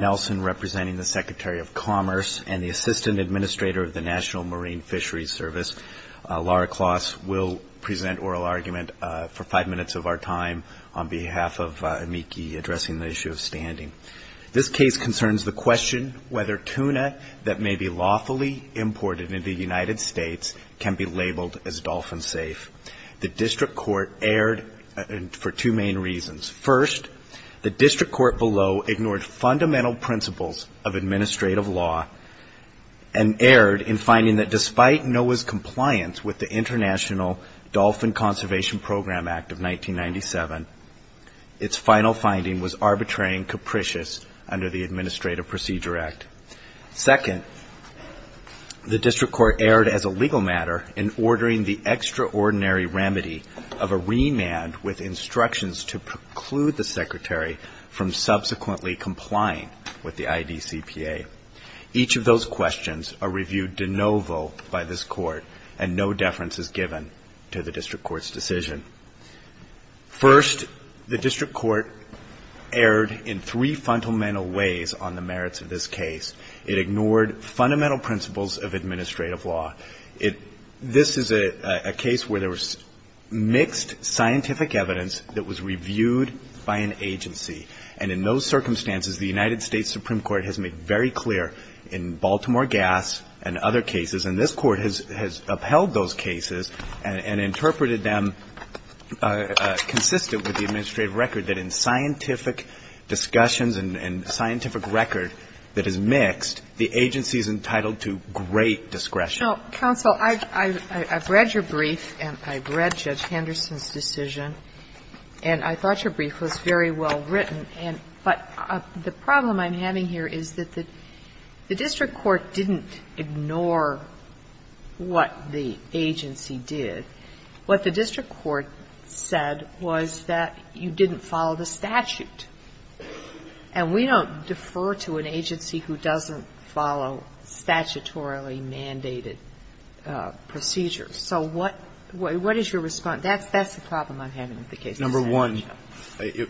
representing the Secretary of Commerce and the Assistant Administrator of the National Marine Fisheries Service, Laura Kloss, will present oral argument for five minutes of our time on behalf of AMICI addressing the issue of standing. This case concerns the question whether tuna that may be lawfully imported into the United States can be labeled as dolphin safe. The District Court erred for two main reasons. First, the District Court below ignored fundamental principles of administrative law and erred in finding that despite NOAA's compliance with the International Dolphin Conservation Program Act of 1997, its final finding was arbitrary and capricious under the Administrative Procedure Act. Second, the District Court erred as a legal matter in ordering the extraordinary remedy of a remand with instructions to preclude the Secretary from subsequently complying with the IDCPA. Each of those questions are reviewed de novo by this Court and no deference is given to the District Court's decision. First, the District Court erred in three fundamental ways on the merits of this case. It ignored fundamental principles of administrative law. This is a case where there was mixed scientific evidence that was reviewed by an agency. And in those circumstances, the United States Supreme Court has made very clear in Baltimore Gas and other cases, and this Court has upheld those cases and interpreted them consistent with the administrative record that in scientific discussions and scientific record that is mixed, the agency is entitled to great discretion. Sotomayor, I've read your brief and I've read Judge Henderson's decision, and I thought your brief was very well written, but the problem I'm having here is that the District Court didn't ignore what the agency did. What the District Court said was that you didn't follow the statute. And we don't defer to an agency who doesn't follow statutorily mandated procedures. So what is your response? That's the problem I'm having with the case. Number one, I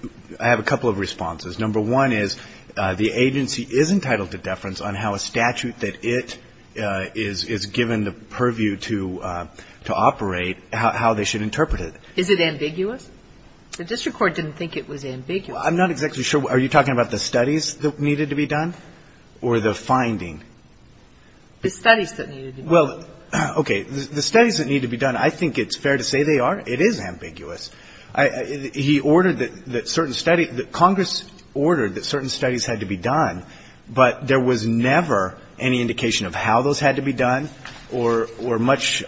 have a couple of responses. Number one is the agency is entitled to deference on how a statute that it is given the purview to operate, how they should interpret it. Is it ambiguous? The District Court didn't think it was ambiguous. Well, I'm not exactly sure. Are you talking about the studies that needed to be done or the finding? The studies that needed to be done. Well, okay. The studies that need to be done, I think it's fair to say they are. It is ambiguous. He ordered that certain studies – that Congress ordered that certain studies had to be done, but there was never any indication of how those had to be done or much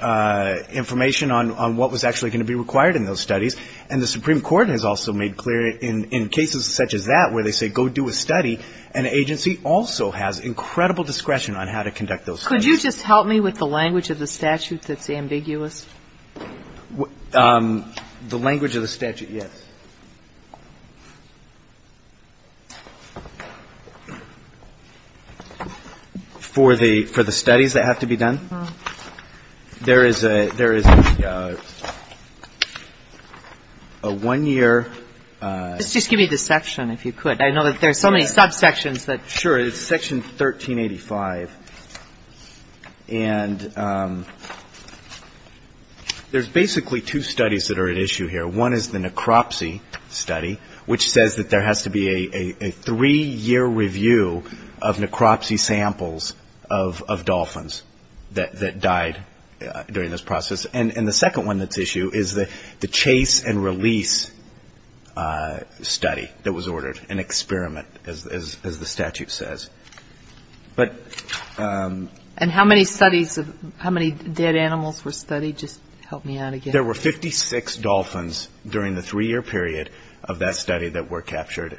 information on what was actually going to be required in those studies. And the Supreme Court has also made clear in cases such as that where they say go do a study, an agency also has incredible discretion on how to conduct those studies. Could you just help me with the language of the statute that's ambiguous? The language of the statute, yes. For the studies that have to be done, there is a one-year Let's just give me the section, if you could. I know that there are so many subsections that Sure. It's section 1385. And there's basically two studies that are at issue here. One is the necropsy study, which says that there has to be a three-year review of necropsy samples of dolphins that died during this process. And the second one that's at issue is the chase and release study that was ordered, an experiment, as the statute says. And how many studies, how many dead animals were studied? Just help me out again. There were 56 dolphins during the three-year period of that study that were captured.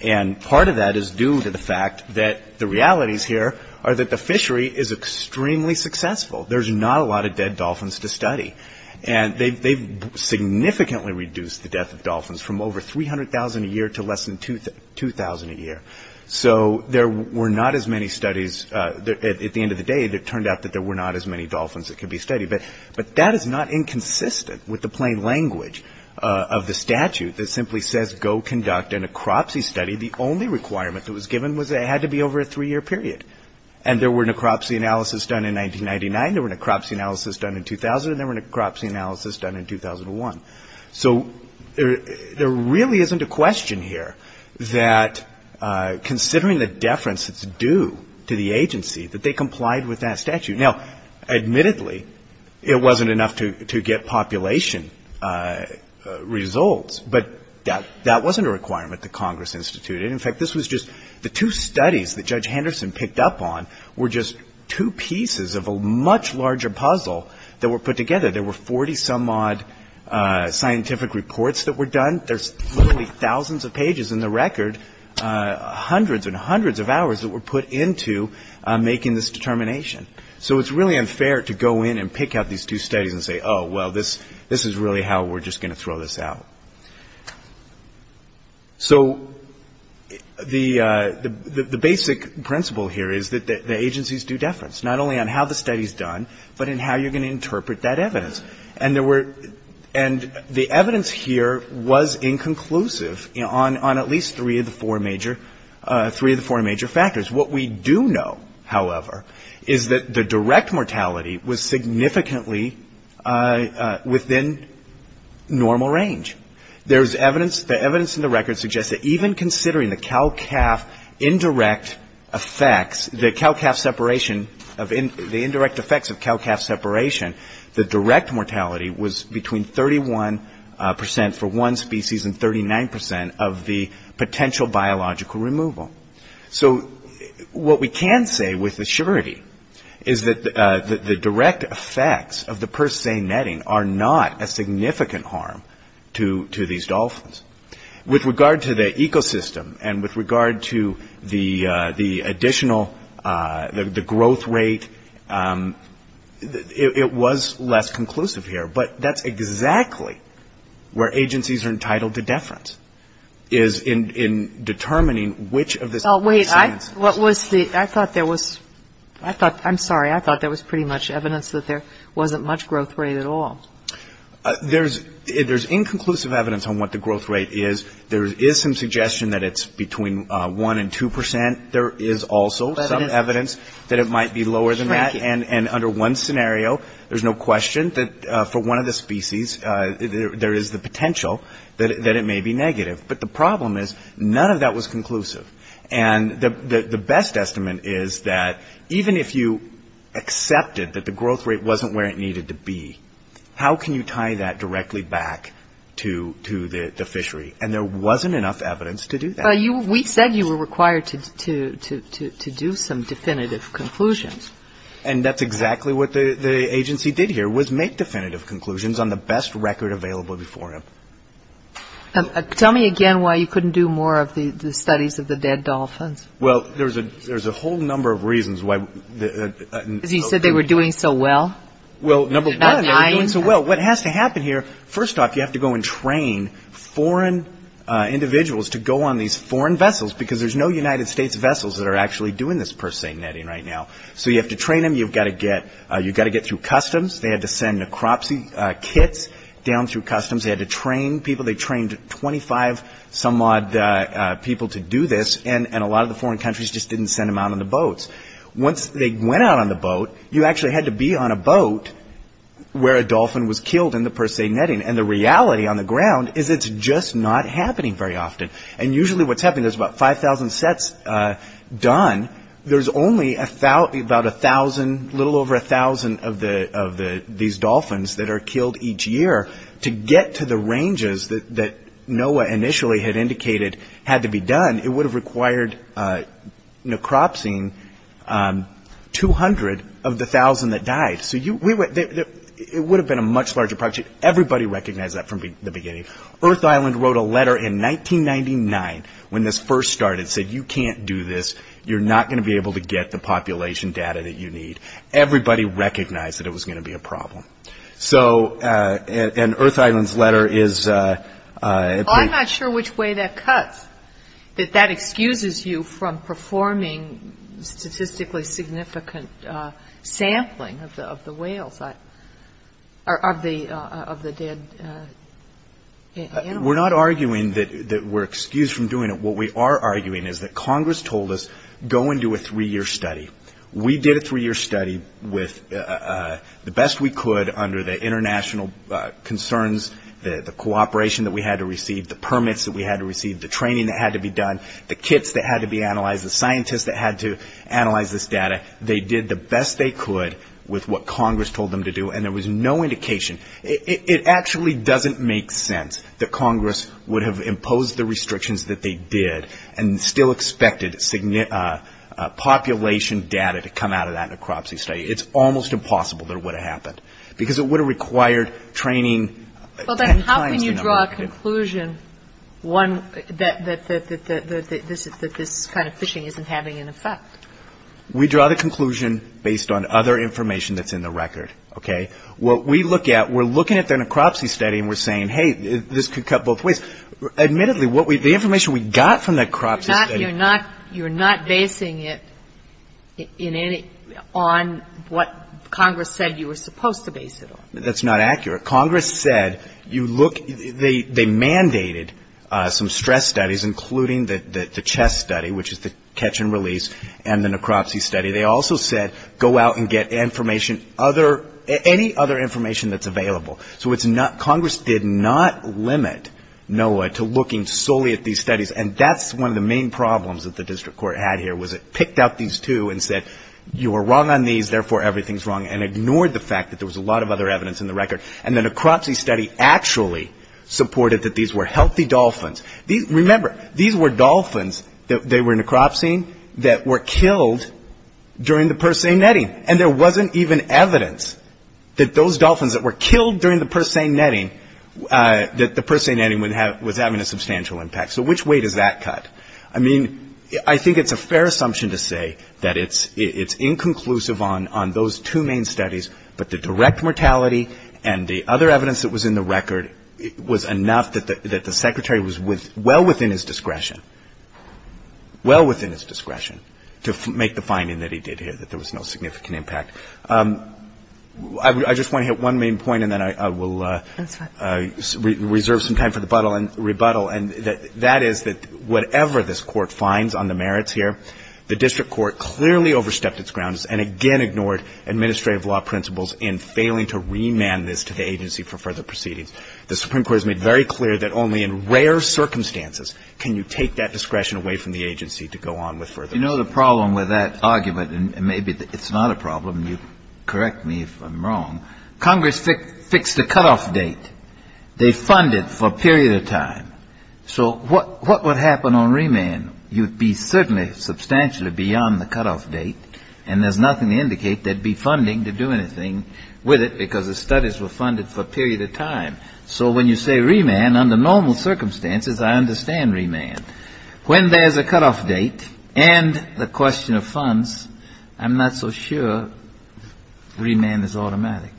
And part of that is due to the fact that the realities here are that the fishery is extremely successful. There's not a lot of dead dolphins to study. And they've significantly reduced the death of dolphins from over 300,000 a year to less than 2,000 a year. So there were not as many studies. At the end of the day, it turned out that there were not as many dolphins that could be studied. But that is not inconsistent with the plain language of the statute that simply says go conduct a necropsy study. The only requirement that was given was that it had to be over a three-year period. And there were necropsy analysis done in 1999. There were necropsy analysis done in 2000. And there were necropsy analysis done in 2001. So there really isn't a question here that considering the deference that's due to the agency, that they complied with that statute. Now, admittedly, it wasn't enough to get population results, but that wasn't a requirement that Congress instituted. In fact, this was just the two studies that Judge Henderson picked up on were just two pieces of a much larger puzzle that were put together. There were 40-some-odd scientific reports that were done. There's literally thousands of pages in the record, hundreds and hundreds of hours that were put into making this determination. So it's really unfair to go in and pick out these two studies and say, oh, well, this is really how we're just going to throw this out. So the basic principle here is that the agency's due deference, not only on how the study's done, but in how you're going to interpret that evidence. And there were the evidence here was inconclusive on at least three of the four major factors. What we do know, however, is that the direct mortality was significantly within normal range. There's evidence, the evidence in the record suggests that even considering the cow-calf indirect effects, the cow-calf separation, the indirect effects of cow-calf separation, the direct mortality was between 31% for one species and 39% of the potential biological removal. So what we can say with assurity is that the direct effects of the purse seine netting are not a significant harm to these dolphins. With regard to the ecosystem and with regard to the additional, the growth rate, it was less conclusive here. But that's exactly where agencies are entitled to deference, is in determining which of this purse seinese was the, I thought there was, I thought, I'm sorry, I thought there was pretty much evidence that there wasn't much growth rate at all. There's inconclusive evidence on what the growth rate is. There is some suggestion that it's between 1 and 2%. There is also some evidence that it might be lower than that. And under one scenario, there's no question that for one of the species, there is the potential that it may be negative. But the problem is none of that was conclusive. And the best estimate is that even if you accepted that the growth rate wasn't where it needed to be, how can you tie that directly back to the fishery? And there wasn't enough evidence to do that. But you, we said you were required to do some definitive conclusions. And that's exactly what the agency did here, was make definitive conclusions on the best record available before him. Tell me again why you couldn't do more of the studies of the dead dolphins. Well, there's a whole number of reasons why. Because you said they were doing so well? Well, number one, they were doing so well. What has to happen here, first off, you have to go and train foreign individuals to go on these foreign vessels, because there's no United States vessels that are actually doing this purse seine netting right now. So you have to train them. You've got to get, you've got to get through customs. They had to send necropsy kits down through customs. They had to train people. They trained 25 some odd people to do this. And a lot of the foreign countries just didn't send them out on the boats. Once they went out on the boat, you actually had to be on a boat where a dolphin was killed in the purse seine netting. And the reality on the ground is it's just not happening very often. And usually what's happening, there's about 5,000 sets done. There's only about 1,000, a little over 1,000 of these dolphins that are killed each year. To get to the ranges that NOAA initially had indicated had to be done, it would have required necropsying 200 of the 1,000 that died. So it would have been a much larger project. Everybody recognized that from the beginning. Earth Island wrote a letter in 1999 when this first started, said you can't do this. You're not going to be able to get the population data that you need. Everybody recognized that it was going to be a problem. So, and Earth Island's letter is... Well, I'm not sure which way that cuts, that that excuses you from performing statistically significant sampling of the whales, of the dead animals. We're not arguing that we're excused from doing it. What we are arguing is that Congress told us, go and do a three-year study. We did a three-year study with the best we could under the international concerns, the cooperation that we had to receive, the permits that we had to receive, the training that had to be done, the kits that had to be analyzed, the scientists that had to analyze this data. They did the best they could with what Congress told them to do, and there was no indication. It actually doesn't make sense that Congress would have imposed the restrictions that they did and still expected population data to come out of that necropsy study. It's almost impossible that it would have happened, because it would have required training ten times the number that it did. Well, then how can you draw a conclusion that this kind of fishing isn't having an effect? We draw the conclusion based on other information that's in the record, okay? What we look at, we're looking at the necropsy study and we're saying, hey, this could cut both ways. Admittedly, the information we got from the necropsy study --. You're not basing it on what Congress said you were supposed to base it on. That's not accurate. Congress said, you look, they mandated some stress studies, including the CHESS study, which is the catch and release, and the necropsy study. They also said, go out and get information, any other information that's available. So it's not, Congress did not limit NOAA to looking solely at these studies, and that's one of the main problems that the district court had here, was it picked out these two and said, you were wrong on these, therefore everything's wrong, and ignored the fact that there was a lot of other evidence in the record. And the necropsy study actually supported that these were healthy dolphins. Remember, these were dolphins, they were necropsying, that were killed during the purse seine netting, and there wasn't even evidence that those dolphins that were killed during the purse seine netting, that the purse seine netting was having a substantial impact. So which way does that cut? I mean, I think it's a fair assumption to say that it's inconclusive on those two main studies, but the direct mortality and the other evidence that was in the record was enough that the secretary was well within his discretion, well within his discretion to make the finding that he did here, that there was no significant impact. I just want to hit one main point, and then I will reserve some time for the rebuttal, and that is that whatever this Court finds on the merits here, the district court clearly overstepped its grounds and again ignored administrative law principles in failing to remand this to the agency for further proceedings. The Supreme Court has made very clear that only in rare circumstances can you take that discretion away from the agency to go on with further proceedings. You know the problem with that argument, and maybe it's not a problem, and you correct me if I'm wrong, Congress fixed a cutoff date. They funded for a period of time. So what would happen on remand? You'd be certainly substantially beyond the cutoff date, and there's nothing to indicate they'd be funding to do anything with it because the studies were funded for a period of time. So when you say remand, under normal circumstances, I understand remand. When there's a cutoff date and the question of funds, I'm not so sure remand is automatic.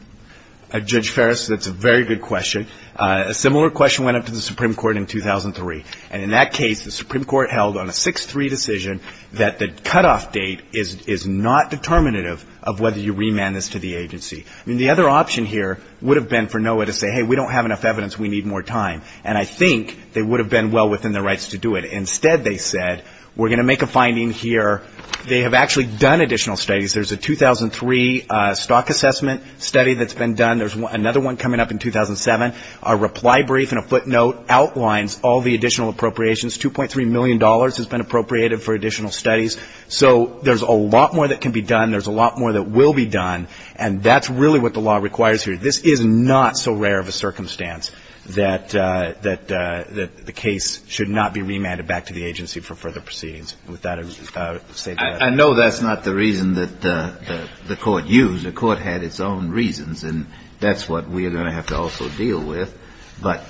Judge Ferris, that's a very good question. A similar question went up to the Supreme Court in 2003, and in that case, the Supreme Court held on a 6-3 decision that the cutoff date is not determinative of whether you remand this to the agency. I mean, the other option here would have been for NOAA to say, hey, we don't have enough evidence, we need more time. And I think they would have been well within their rights to do it. Instead, they said, we're going to make a finding here. They have actually done additional studies. There's a 2003 stock assessment study that's been done. There's another one coming up in 2007. A reply brief and a footnote outlines all the additional appropriations. $2.3 million has been appropriated for additional studies. So there's a lot more that can be done. There's a lot more that will be done. And that's really what the law requires here. This is not so rare of a circumstance that the case should not be remanded back to the agency for further proceedings. With that, I would say that's it. I know that's not the reason that the Court used. The Court had its own reasons. And that's what we are going to have to also deal with. But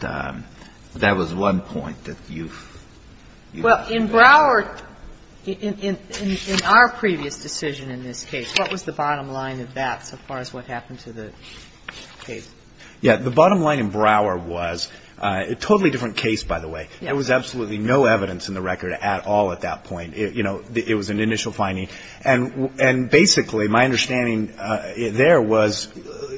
that was one point that you ---- Well, in Brouwer, in our previous decision in this case, what was the bottom line of that so far as what happened to the case? Yeah. The bottom line in Brouwer was a totally different case, by the way. There was absolutely no evidence in the record at all at that point. You know, it was an initial finding. And basically, my understanding there was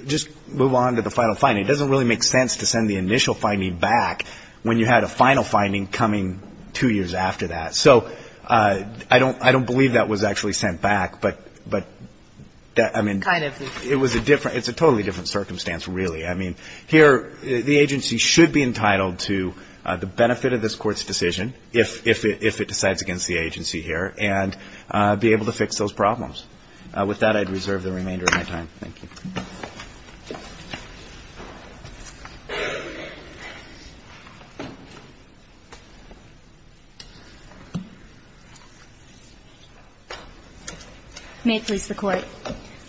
just move on to the final finding. It doesn't really make sense to send the initial finding back when you had a final finding coming two years after that. So I don't believe that was actually sent back. But, I mean, it was a different ---- it's a totally different circumstance, really. I mean, here the agency should be entitled to the benefit of this Court's decision, if it decides against the agency here, and be able to fix those problems. With that, I'd reserve the remainder of my time. Thank you. May it please the Court.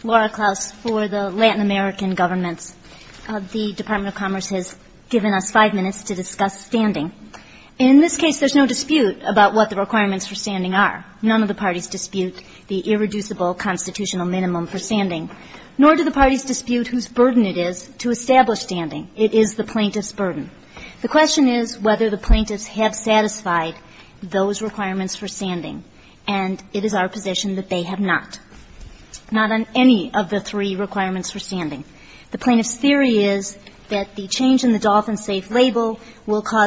Laura Klaus for the Latin American Governments. The Department of Commerce has given us five minutes to discuss standing. In this case, there's no dispute about what the requirements for standing are. None of the parties dispute the irreducible constitutional minimum for standing, nor do the parties dispute whose burden it is to establish standing. It is the plaintiff's burden. The question is whether the plaintiffs have satisfied those requirements for standing. And it is our position that they have not, not on any of the three or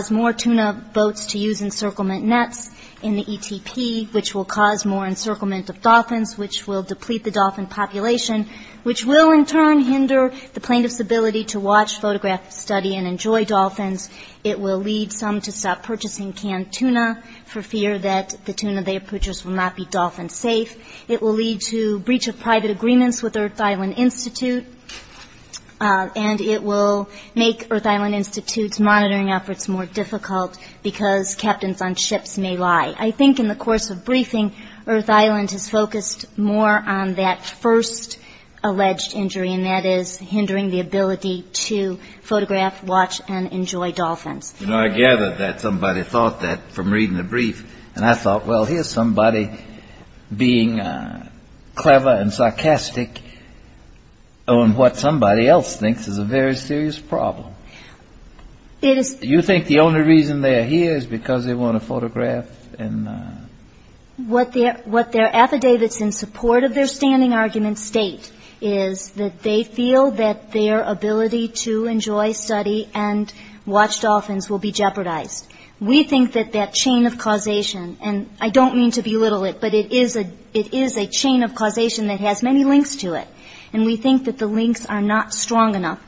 four tuna boats to use encirclement nets in the ETP, which will cause more encirclement of dolphins, which will deplete the dolphin population, which will in turn hinder the plaintiff's ability to watch, photograph, study, and enjoy dolphins. It will lead some to stop purchasing canned tuna for fear that the tuna they have purchased will not be dolphin safe. It will lead to breach of private agreements with Earth Island Institutes, monitoring efforts more difficult, because captains on ships may lie. I think in the course of briefing, Earth Island has focused more on that first alleged injury, and that is hindering the ability to photograph, watch, and enjoy dolphins. You know, I gathered that somebody thought that from reading the brief. And I thought, well, here's somebody being clever and sarcastic on what somebody else thinks is a very serious problem. Do you think the only reason they're here is because they want to photograph? What their affidavits in support of their standing argument state is that they feel that their ability to enjoy, study, and watch dolphins will be jeopardized. We think that that chain of causation, and I don't mean to belittle it, but it is a chain of causation that has many links to it. And we think that the links are not strong enough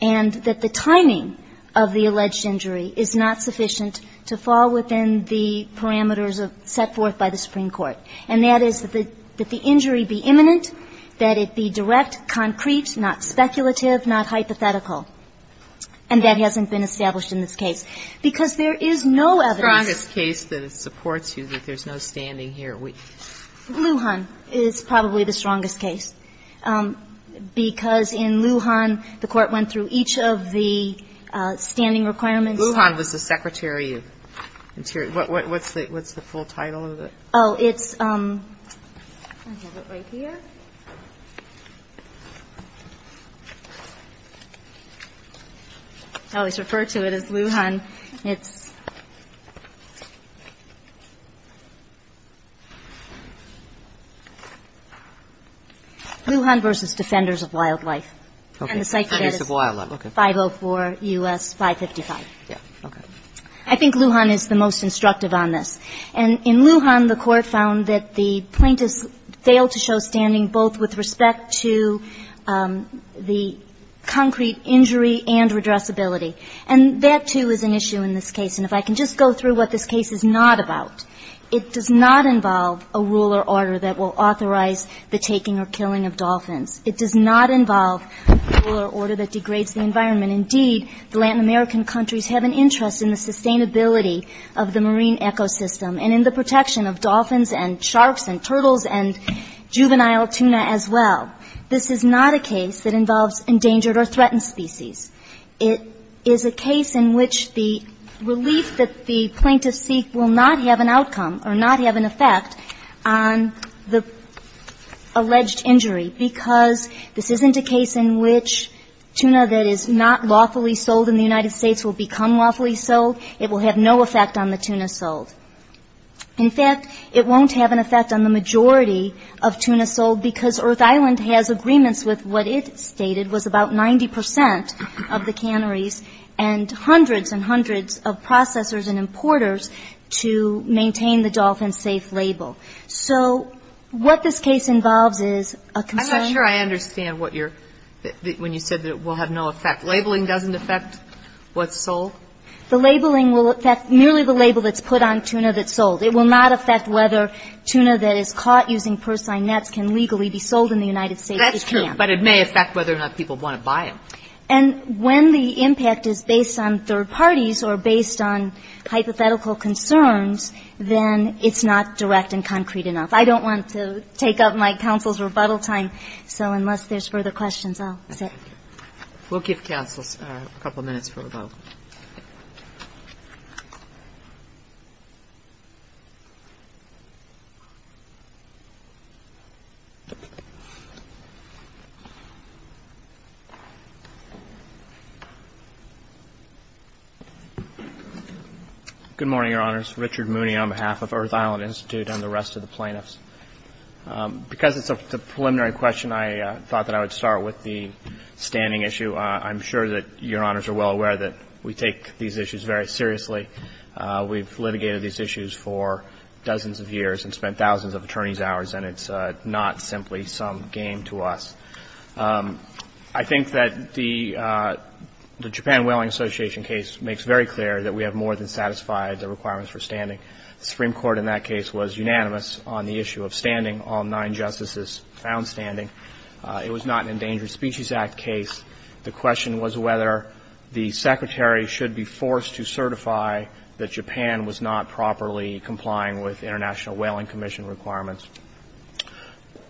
and that the timing of the alleged injury is not sufficient to fall within the parameters set forth by the Supreme Court. And that is that the injury be imminent, that it be direct, concrete, not speculative, not hypothetical. And that hasn't been established in this case, because there is no evidence. The strongest case that supports you that there's no standing here. Lujan is probably the strongest case, because in Lujan, the Court went through each of the standing requirements. Lujan was the Secretary of Interior. What's the full title of it? Oh, it's, I have it right here. I always refer to it as Lujan. It's, Lujan v. Defenders of Wildlife. And the site is 504 U.S. 555. I think Lujan is the most instructive on this. And in Lujan, the Court found that the plaintiffs failed to show standing both with respect to the concrete injury and redressability. And that, too, is an issue in this case. And if I can just go through what this case is not about, it does not involve a rule or order that will authorize the taking or killing of dolphins. It does not involve a rule or order that degrades the environment. Indeed, the Latin American countries have an interest in the sustainability of the marine ecosystem and in the protection of dolphins and sharks and turtles and juvenile tuna as well. This is not a case that involves endangered or threatened species. It is a case in which the relief that the plaintiffs seek will not have an outcome or not have an effect on the alleged injury, because this isn't a case in which tuna that is not lawfully sold in the United States will become lawfully sold. It will have no effect on the tuna sold. In fact, it won't have an effect on the majority of tuna sold, because Earth Island has agreements with what it stated was about 90 percent of the canneries and hundreds and hundreds of processors and importers to maintain the dolphin safe label. So what this case involves is a concern. I'm not sure I understand when you said that it will have no effect. Labeling doesn't affect what's sold? The labeling will affect merely the label that's put on tuna that's sold. It will not affect whether tuna that is caught using purslane nets can legally be sold in the United States. It can't. And when the impact is based on third parties or based on hypothetical concerns, then it's not direct and concrete enough. I don't want to take up my counsel's rebuttal time, so unless there's further questions, I'll sit. We'll give counsels a couple minutes for rebuttal. Thank you. Good morning, Your Honors. Richard Mooney on behalf of Earth Island Institute and the rest of the plaintiffs. Because it's a preliminary question, I thought that I would start with the standing issue. I'm sure that Your Honors are well aware that we take these issues very seriously. We've litigated these issues for dozens of years and spent thousands of attorneys' hours, and it's not simply some game to us. I think that the Japan Whaling Association case makes very clear that we have more than satisfied the requirements for standing. The Supreme Court in that case was unanimous on the issue of standing. All nine justices found standing. It was not an Endangered Species Act case. The question was whether the Secretary should be forced to certify that Japan was not properly complying with International Whaling Commission requirements.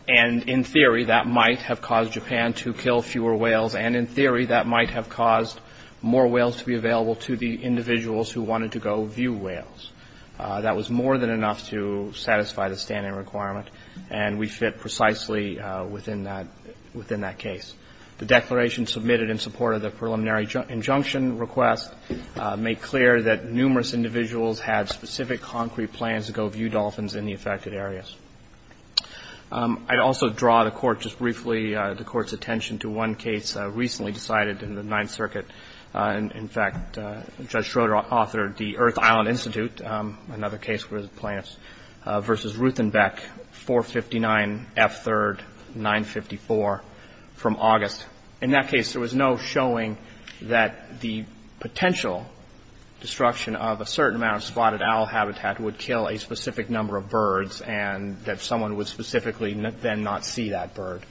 And in theory, that might have caused Japan to kill fewer whales, and in theory, that might have caused more whales to be available to the individuals who wanted to go view whales. That was more than enough to satisfy the standing requirement, and we fit precisely within that case. The declaration submitted in support of the preliminary injunction request made clear that numerous individuals had specific concrete plans to go view dolphins in the affected areas. I'd also draw the Court's attention to one case recently decided in the Ninth Circuit. In fact, Judge Schroeder authored the Earth Island Institute, another case where the plaintiffs versus Ruthenbeck, 459 F. 3rd, 954, from Austin. In that case, there was no showing that the potential destruction of a certain amount of spotted owl habitat would kill a specific number of birds, and that someone would specifically then not see that bird.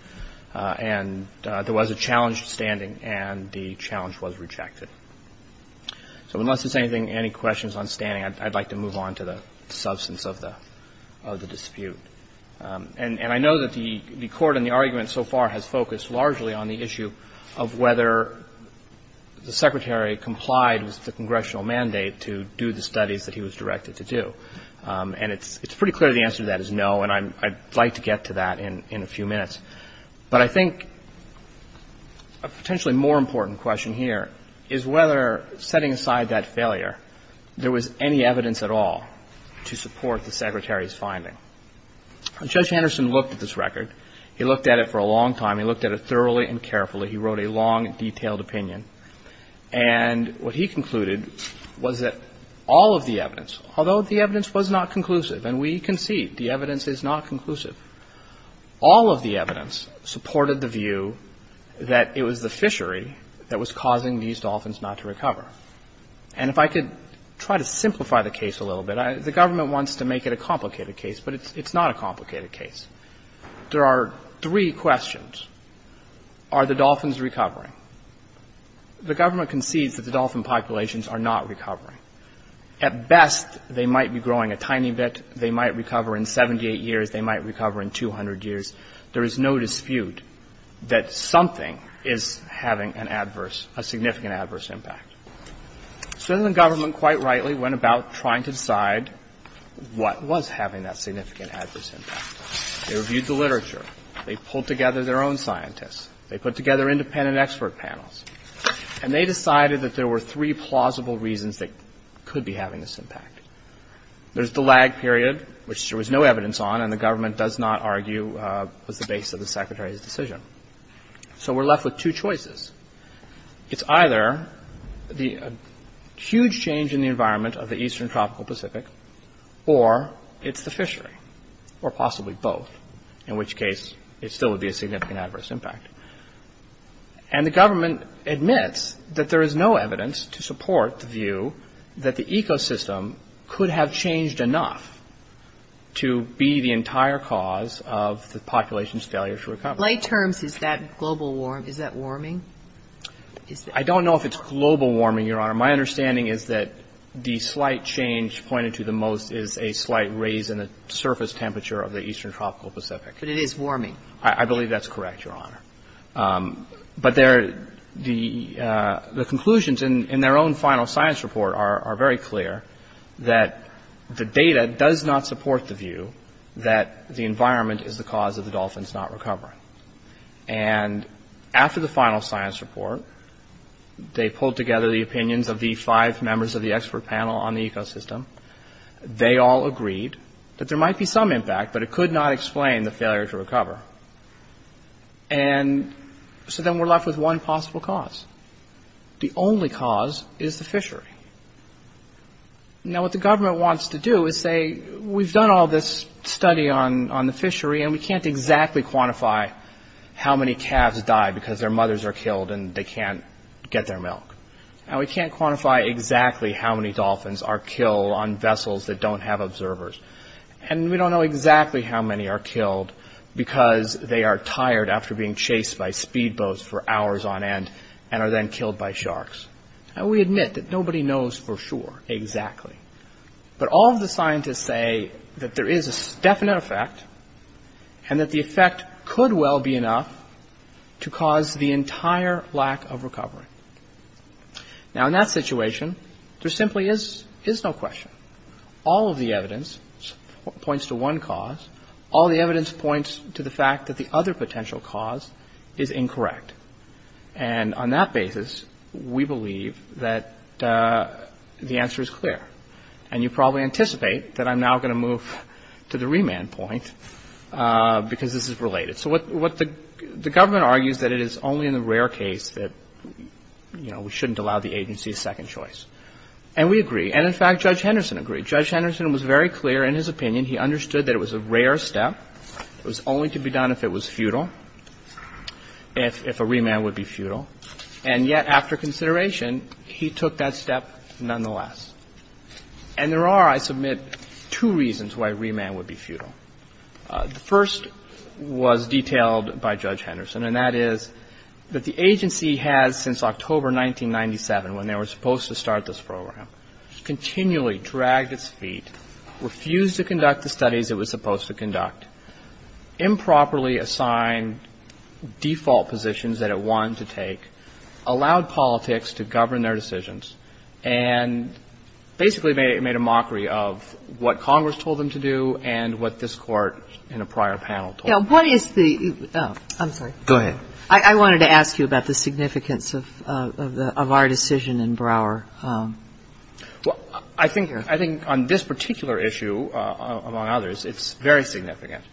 And there was a challenge to standing, and the challenge was rejected. So unless there's anything, any questions on standing, I'd like to move on to the substance of the dispute. And I know that the Court in the argument so far has focused largely on the issue of whether the Secretary complied with the Congressional mandate to do the studies that he was directed to do. And it's pretty clear the answer to that is no, and I'd like to get to that in a few minutes. But I think a potentially more important question here is whether, setting aside that failure, there was any evidence at all to support the Secretary's finding. And Judge Anderson looked at this record. He looked at it for a long time. He looked at it thoroughly and carefully. He wrote a long, detailed opinion. And what he concluded was that all of the evidence, although the evidence was not conclusive, and we concede the evidence is not conclusive, all of the evidence supported the view that it was the fishery that was causing these dolphins not to recover. And if I could try to simplify the case a little bit. The government wants to make it a complicated case, but it's not a complicated case. There are three questions. Are the dolphins recovering? The government concedes that the dolphin populations are not recovering. At best, they might be growing a tiny bit. They might recover in 78 years. They might recover in 200 years. There is no dispute that something is having an adverse, a significant adverse impact. So the government, quite rightly, went about trying to decide what was having that significant adverse impact. They reviewed the literature. They pulled together their own scientists. They put together independent expert panels. And they decided that there were three plausible reasons that could be having this impact. There's the lag period, which there was no evidence on, and the government does not argue was the base of the Secretary's decision. So we're left with two choices. It's either the huge change in the environment of the eastern tropical Pacific, or it's the fishery, or possibly both, in which case it still would be a significant adverse impact. And the government admits that there is no evidence to support the view that the ecosystem could have changed enough to be the entire cause of the population's failure to recover. But in lay terms, is that global warming? I don't know if it's global warming, Your Honor. My understanding is that the slight change pointed to the most is a slight raise in the surface temperature of the eastern tropical Pacific. But it is warming. I believe that's correct, Your Honor. But the conclusions in their own final science report are very clear that the data does not support the view that the environment is the cause of the dolphins not recovering. And after the final science report, they pulled together the opinions of the five members of the expert panel on the ecosystem. They all agreed that there might be some impact, but it could not explain the failure to recover. And so then we're left with one possible cause. The only cause is the fishery. Now, what the government wants to do is say, we've done all this study on the fishery, and we can't exactly quantify how many calves die because their mothers are killed and they can't get their milk. And we can't quantify exactly how many dolphins are killed on vessels that don't have observers. And we don't know exactly how many are killed because they are tired after being chased by speedboats for hours on end and are then killed by sharks. And we admit that nobody knows for sure exactly. But all of the scientists say that there is a definite effect, and that the effect could well be enough to cause the entire lack of recovery. Now, in that situation, there simply is no question. All of the evidence points to one cause. All the evidence points to the fact that the other potential cause is incorrect. And on that basis, we believe that the answer is clear. And you probably anticipate that I'm now going to move to the remand point, because this is related. So what the government argues that it is only in the rare case that, you know, we shouldn't allow the agency a second choice. And we agree. And in fact, Judge Henderson agreed. He took a rare step that was only to be done if it was futile, if a remand would be futile. And yet, after consideration, he took that step nonetheless. And there are, I submit, two reasons why a remand would be futile. The first was detailed by Judge Henderson, and that is that the agency has, since October 1997, when they were supposed to start this program, continually dragged its feet, refused to conduct the studies it was supposed to conduct, improperly assigned default positions that it wanted to take, allowed politics to govern their decisions, and basically made a mockery of what Congress told them to do and what this Court in a prior panel told them to do. Kagan. Now, what is the — I'm sorry. Go ahead. I wanted to ask you about the significance of our decision in Brouwer. Well, I think on this particular issue, among others, it's very significant.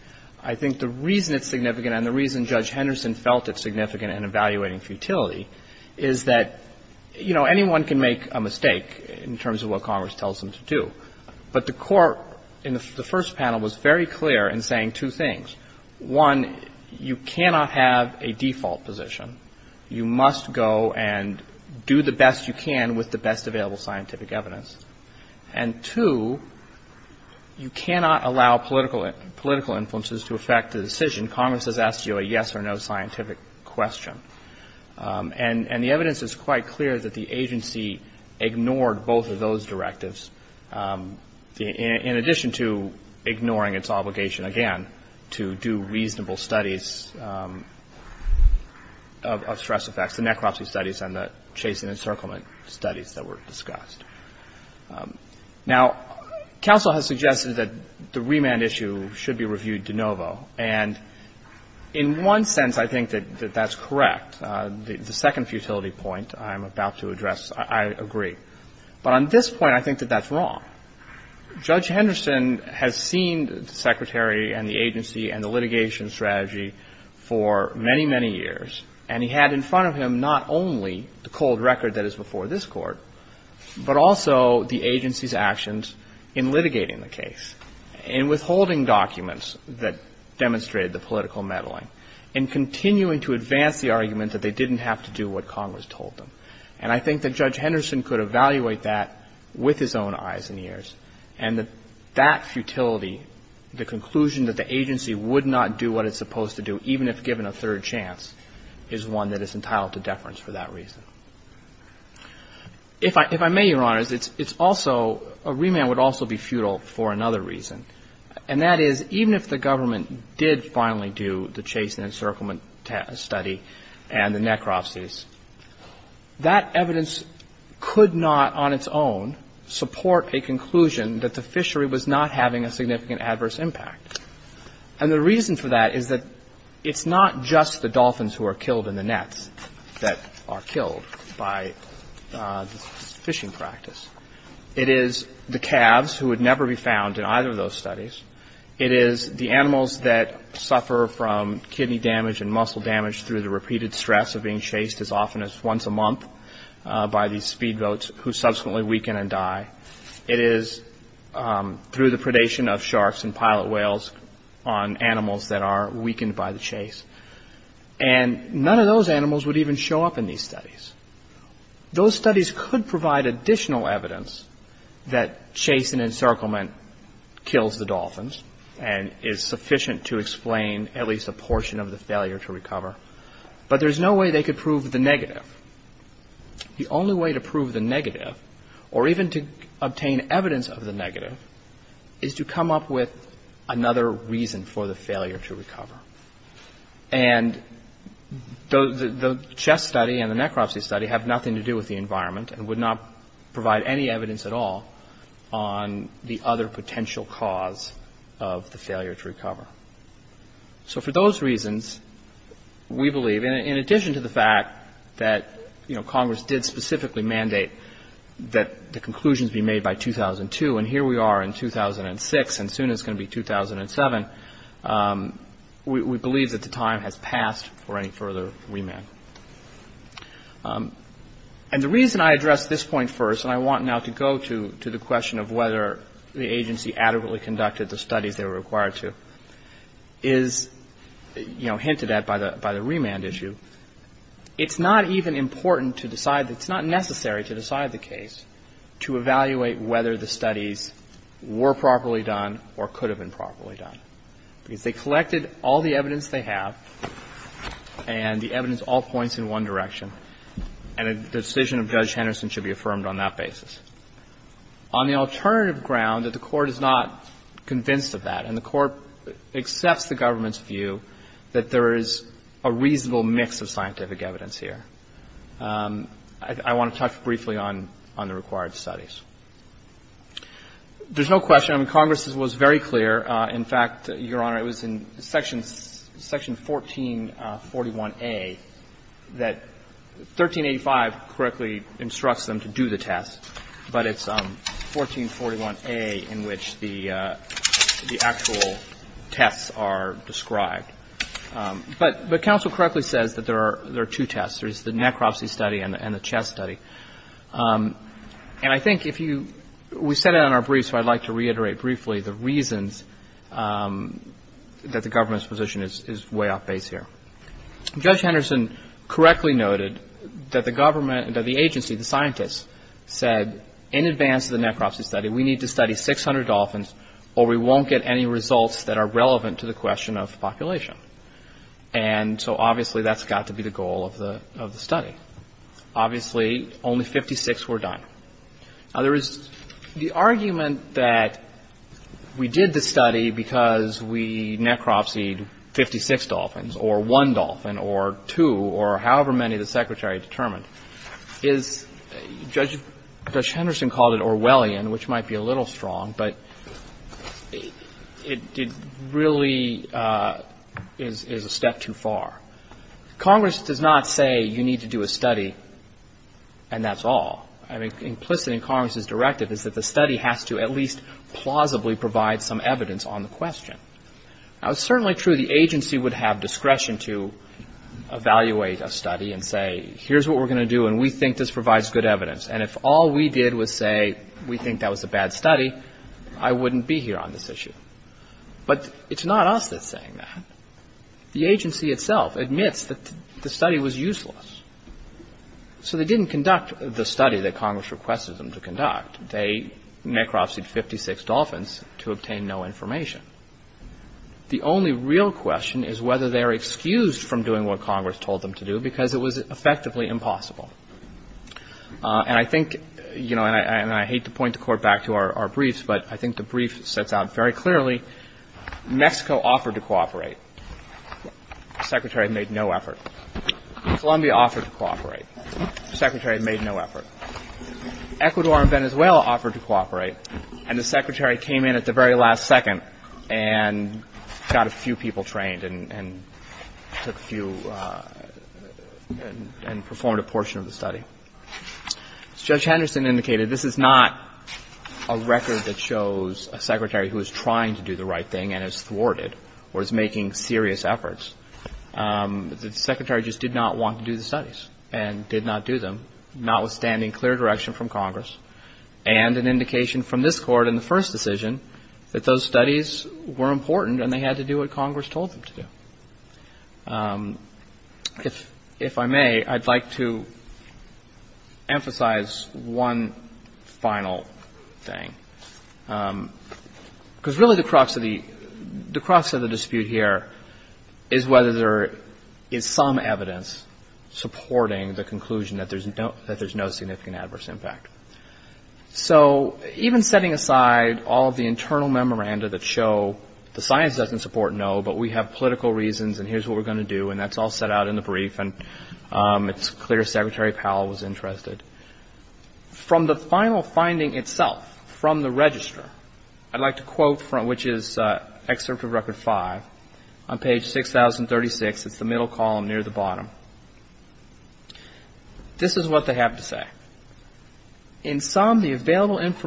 I think the reason it's significant and the reason Judge Henderson felt it's significant in evaluating futility is that, you know, anyone can make a mistake in terms of what Congress tells them to do, but the Court in the first panel was very clear in saying two things. One, you cannot have a default position. You must go and do the best you can with the best available scientific evidence. And, two, you cannot allow political influences to affect the decision. Congress has asked you a yes-or-no scientific question. And the evidence is quite clear that the agency ignored both of those directives, in addition to ignoring its obligation, again, to do reasonable studies of stress effects, the necropsy studies and the chase and encirclement studies that were discussed. Now, counsel has suggested that the remand issue should be reviewed de novo, and in one sense, I think that that's correct. The second futility point I'm about to address, I agree. But on this point, I think that that's wrong. Judge Henderson has seen the Secretary and the agency and the litigation strategy for many, many years, and he had in front of him not only the cold record that is before this Court, but also the agency's actions in litigating the case, in withholding documents that demonstrated the government that they didn't have to do what Congress told them. And I think that Judge Henderson could evaluate that with his own eyes and ears, and that that futility, the conclusion that the agency would not do what it's supposed to do, even if given a third chance, is one that is entitled to deference for that reason. If I may, Your Honors, it's also, a remand would also be futile for another reason, and that is, even if the government did finally do the thing, and the necropsies, that evidence could not, on its own, support a conclusion that the fishery was not having a significant adverse impact. And the reason for that is that it's not just the dolphins who are killed in the nets that are killed by the fishing practice. It is the calves, who would never be found in either of those studies. It is the animals that suffer from kidney damage and muscle damage through the repeated stress of being chased as often as once a month by these speedboats, who subsequently weaken and die. It is through the predation of sharks and pilot whales on animals that are weakened by the chase. And none of those animals would even show up in these studies. Those studies could provide additional evidence that chase and encirclement kills the dolphins. And is sufficient to explain at least a portion of the failure to recover. But there's no way they could prove the negative. The only way to prove the negative, or even to obtain evidence of the negative, is to come up with another reason for the failure to recover. And the CHESS study and the necropsy study have nothing to do with the environment and would not provide any evidence at all on the other potential cause of the failure to recover. So for those reasons, we believe, in addition to the fact that Congress did specifically mandate that the conclusions be made by 2002, and here we are in 2006, and soon it's going to be 2007, we believe that the time has passed for any further remand. And the reason I address this point first, and I want now to go to the question of whether the agency adequately conducted the studies they were required to, is, you know, hinted at by the remand issue, it's not even important to decide, it's not necessary to decide the case to evaluate whether the studies were properly done or could have been properly done. Because they collected all the evidence they have, and the evidence all points in one direction, and a decision of Judge Henderson should be affirmed on that basis. On the alternative ground that the Court is not convinced of that, and the Court accepts the government's view that there is a reasonable mix of scientific evidence here, I want to touch briefly on the required studies. There's no question, I mean, Congress was very clear, in fact, Your Honor, it was in Section 1441A that 1385 correctly instructs them to do the test, but it's 1441A in which the actual tests are described. But counsel correctly says that there are two tests, there's the necropsy study and the chest study. And I think if you, we said it in our brief, so I'd like to reiterate briefly the reasons that the government's position is way off base here. Judge Henderson correctly noted that the government, that the agency, the scientists, said in advance of the necropsy study, we need to study 600 dolphins, or we won't get any results that are relevant to the question of population. And so obviously that's got to be the goal of the study. Obviously only 56 were done. Now, there is the argument that we did the study because we necropsied 56 dolphins, or one dolphin, or two, or however many the secretary determined, is, Judge Henderson called it Orwellian, which might be a little strong, but it did really, it was a very strong argument. And so I think that is a step too far. Congress does not say you need to do a study, and that's all. I mean, implicit in Congress's directive is that the study has to at least plausibly provide some evidence on the question. Now, it's certainly true the agency would have discretion to evaluate a study and say, here's what we're going to do, and we think this provides good evidence. And if all we did was say we think that was a bad study, I wouldn't be here on this issue. But it's not us that's saying that. The agency itself admits that the study was useless. So they didn't conduct the study that Congress requested them to conduct. They necropsied 56 dolphins to obtain no information. The only real question is whether they're excused from doing what Congress told them to do because it was effectively impossible. And I think, you know, and I hate to point the court back to our briefs, but I think the brief sets out very clearly. Mexico offered to cooperate. The Secretary made no effort. Colombia offered to cooperate. The Secretary made no effort. Ecuador and Venezuela offered to cooperate. And the Secretary came in at the very last second and got a few people trained and took a few and performed a portion of the study. As Judge Henderson indicated, this is not a record that shows a Secretary who is trying to do the right thing and is thwarted or is making serious efforts. The Secretary just did not want to do the studies and did not do them, notwithstanding clear direction from Congress and an indication from this Court in the first decision that those studies were important and they had to do what Congress told them to do. If I may, I'd like to emphasize one final thing. Because really the crux of the dispute here is whether there is some evidence supporting the conclusion that there's no significant adverse impact. So even setting aside all of the internal memoranda that show the science doesn't support no, but we have political reasons and here's what we're going to do, and that's all set out in the brief and it's clear Secretary Powell was interested. From the final finding itself, from the register, I'd like to quote from which is Excerpt of Record 5 on page 6036. It's the middle column near the bottom. This is what they have to say. Now, how is that analysis? That's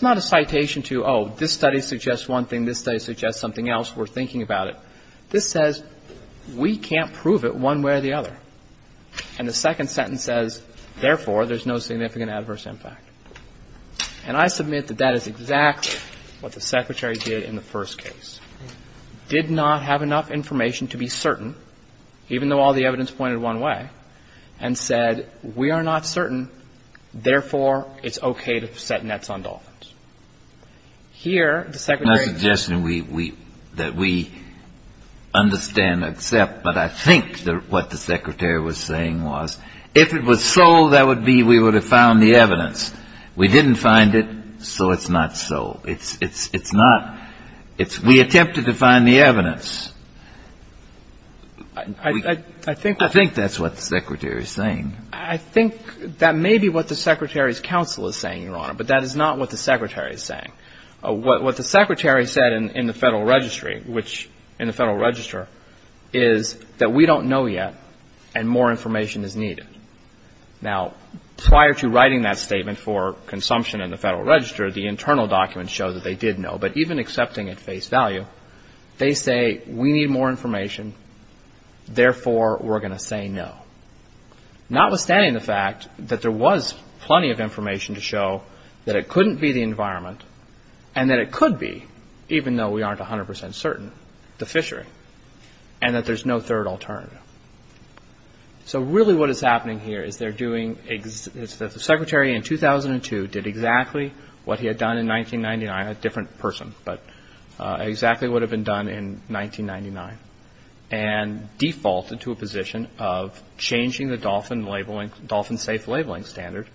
not a citation to, oh, this study suggests one thing, this study suggests something else, we're thinking about it. This says we can't prove it one way or the other. Therefore, there's no significant adverse impact. And I submit that that is exactly what the Secretary did in the first case. Did not have enough information to be certain, even though all the evidence pointed one way, and said we are not certain, therefore, it's okay to set nets on dolphins. Here, the Secretary... What would be, we would have found the evidence. We didn't find it, so it's not so. It's not, we attempted to find the evidence. I think that's what the Secretary is saying. I think that may be what the Secretary's counsel is saying, Your Honor, but that is not what the Secretary is saying. What the Secretary said in the Federal Registry, which, in the Federal Register, is that we don't know yet, and more information is needed. Now, prior to writing that statement for consumption in the Federal Register, the internal documents show that they did know, but even accepting at face value, they say we need more information, therefore, we're going to say no. Notwithstanding the fact that there was plenty of information to show that it couldn't be the environment, and that it could be, even though we aren't 100% certain, the fishery, and that there's no third alternative. So really what is happening here is they're doing... The Secretary in 2002 did exactly what he had done in 1999, a different person, but exactly what had been done in 1999, and defaulted to a position of changing the dolphin labeling, dolphin-safe labeling standard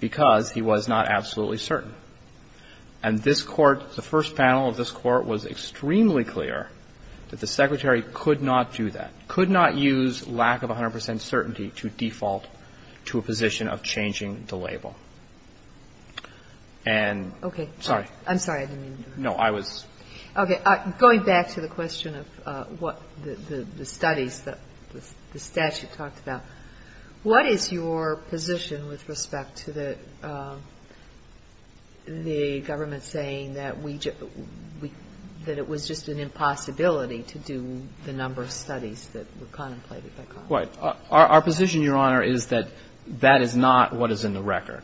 because he was not absolutely certain. And this Court, the first panel of this Court, was extremely clear that the Secretary could not do that, could not use lack of 100% certainty to default to a position of changing the label. And... Kagan. Okay. Sorry. I'm sorry. I didn't mean to... No. I was... Okay. Going back to the question of what the studies, the statute talked about, what is your position with respect to the government saying that we just, that it was just an impossibility to do the number of studies that were contemplated by Congress? Right. Our position, Your Honor, is that that is not what is in the record.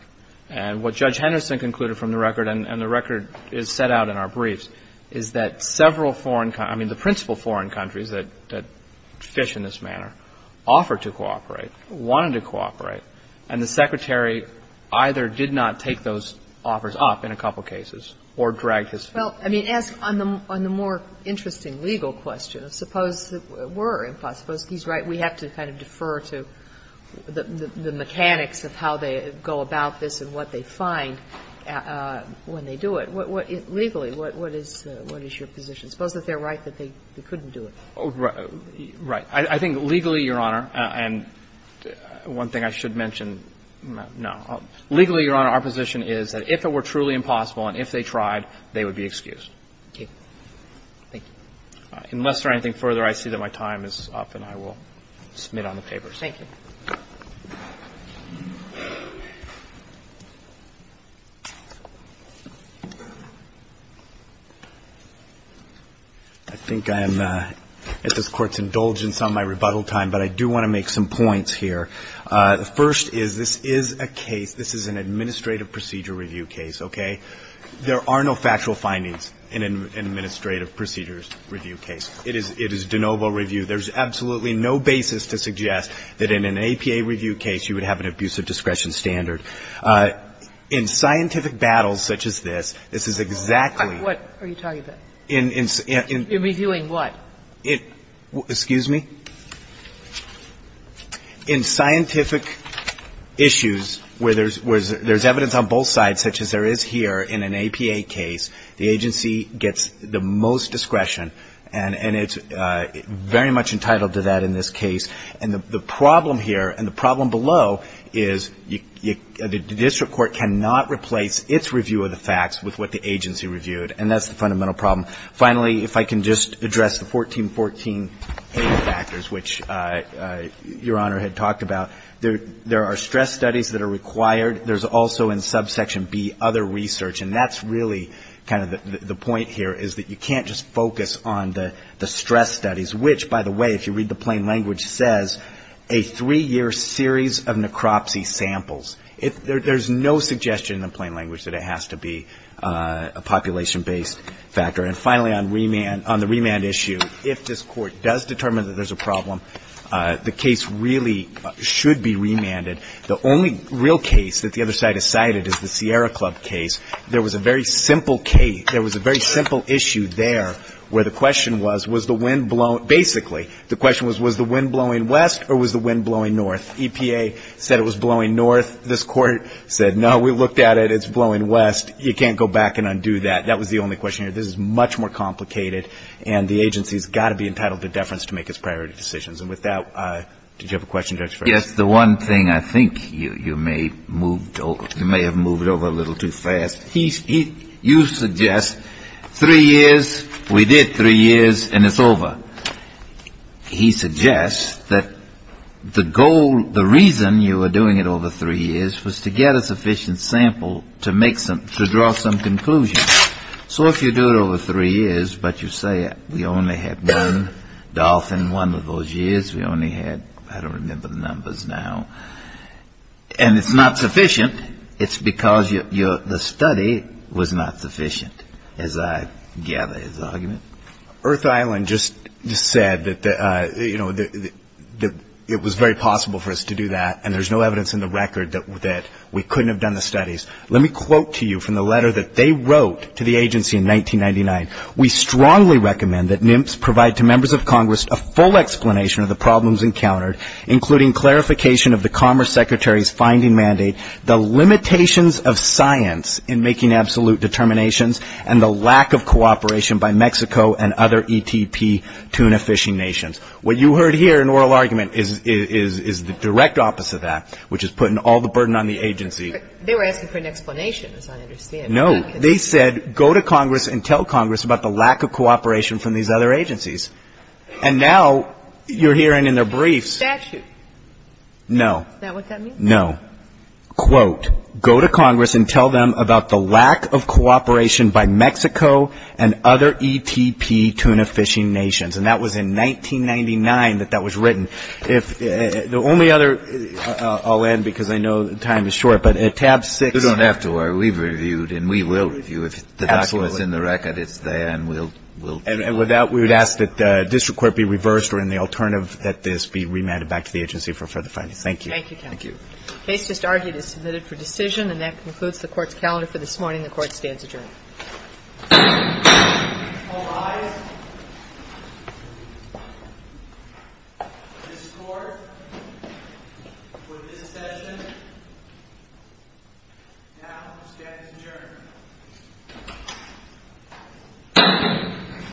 And what Judge Henderson concluded from the record, and the record is set out in our briefs, is that several foreign countries, I mean, the principal foreign countries that fish in this manner, offered to cooperate, wanted to cooperate, and the Secretary either did not take those offers up in a couple cases or dragged his feet. Well, I mean, ask on the more interesting legal question. Suppose that we're impossible. Suppose he's right. We have to kind of defer to the mechanics of how they go about this and what they find when they do it. Legally, what is your position? Suppose that they're right that they couldn't do it. Right. I think legally, Your Honor, and one thing I should mention, no. Legally, Your Honor, our position is that if it were truly impossible and if they tried, they would be excused. Okay. Thank you. Unless there's anything further, I see that my time is up and I will submit on the papers. Thank you. I think I am at this Court's indulgence on my rebuttal time, but I do want to make some points here. The first is this is a case, this is an administrative procedure review case, okay? There are no factual findings in an administrative procedures review case. It is de novo review. There is absolutely no basis to suggest that in an APA review case you would have an abusive discretion standard. In scientific battles such as this, this is exactly. What are you talking about? In, in, in. In reviewing what? Excuse me? In scientific issues where there is evidence on both sides, such as there is here in an APA case, the agency gets the most discretion and it's very much entitled to that in this case. And the problem here and the problem below is the district court cannot replace its review of the facts with what the agency reviewed, and that's the fundamental problem. Finally, if I can just address the 1414A factors, which Your Honor had talked about. There are stress studies that are required. There's also in subsection B other research, and that's really kind of the point here is that you can't just focus on the stress studies, which, by the way, if you read the plain language, says a three-year series of necropsy samples. There's no suggestion in the plain language that it has to be a population-based factor. And finally, on remand, on the remand issue, if this Court does determine that there's a problem, the case really should be remanded. The only real case that the other side has cited is the Sierra Club case. There was a very simple case, there was a very simple issue there where the question was, was the wind blowing, basically, the question was, was the wind blowing west or was the wind blowing north? EPA said it was blowing north. This Court said, no, we looked at it. It's blowing west. You can't go back and undo that. That was the only question here. This is much more complicated, and the agency's got to be entitled to deference to make its priority decisions. And with that, did you have a question, Justice Breyer? Justice Breyer. Yes. The one thing I think you may have moved over a little too fast, you suggest three years, we did three years, and it's over. He suggests that the goal, the reason you were doing it over three years was to get a sufficient sample to draw some conclusions. So if you do it over three years, but you say we only had one dolphin one of those years, we only had, I don't remember the numbers now, and it's not sufficient, it's because the study was not sufficient, as I gather is the argument. Earth Island just said that it was very possible for us to do that, and there's no evidence in the record that we couldn't have done the studies. Let me quote to you from the letter that they wrote to the agency in 1999. We strongly recommend that NIMPS provide to members of Congress a full explanation of the problems encountered, including clarification of the Commerce Secretary's finding mandate, the limitations of science in making absolute determinations, and the lack of cooperation by Mexico and other ETP tuna fishing nations. What you heard here in oral argument is the direct opposite of that, which is putting all the burden on the agency. They were asking for an explanation, as I understand. No. They said go to Congress and tell Congress about the lack of cooperation from these other agencies. And now you're hearing in their briefs. Statute. No. Is that what that means? No. Quote, go to Congress and tell them about the lack of cooperation by Mexico and other And with that, we would ask that the district court be reversed or in the alternative that this be remanded back to the agency for further findings. Thank you. Thank you, counsel. The case just argued is submitted for decision. And that concludes the Court's calendar for this morning. The Court stands adjourned. All rise. This Court, for this session, now stands adjourned.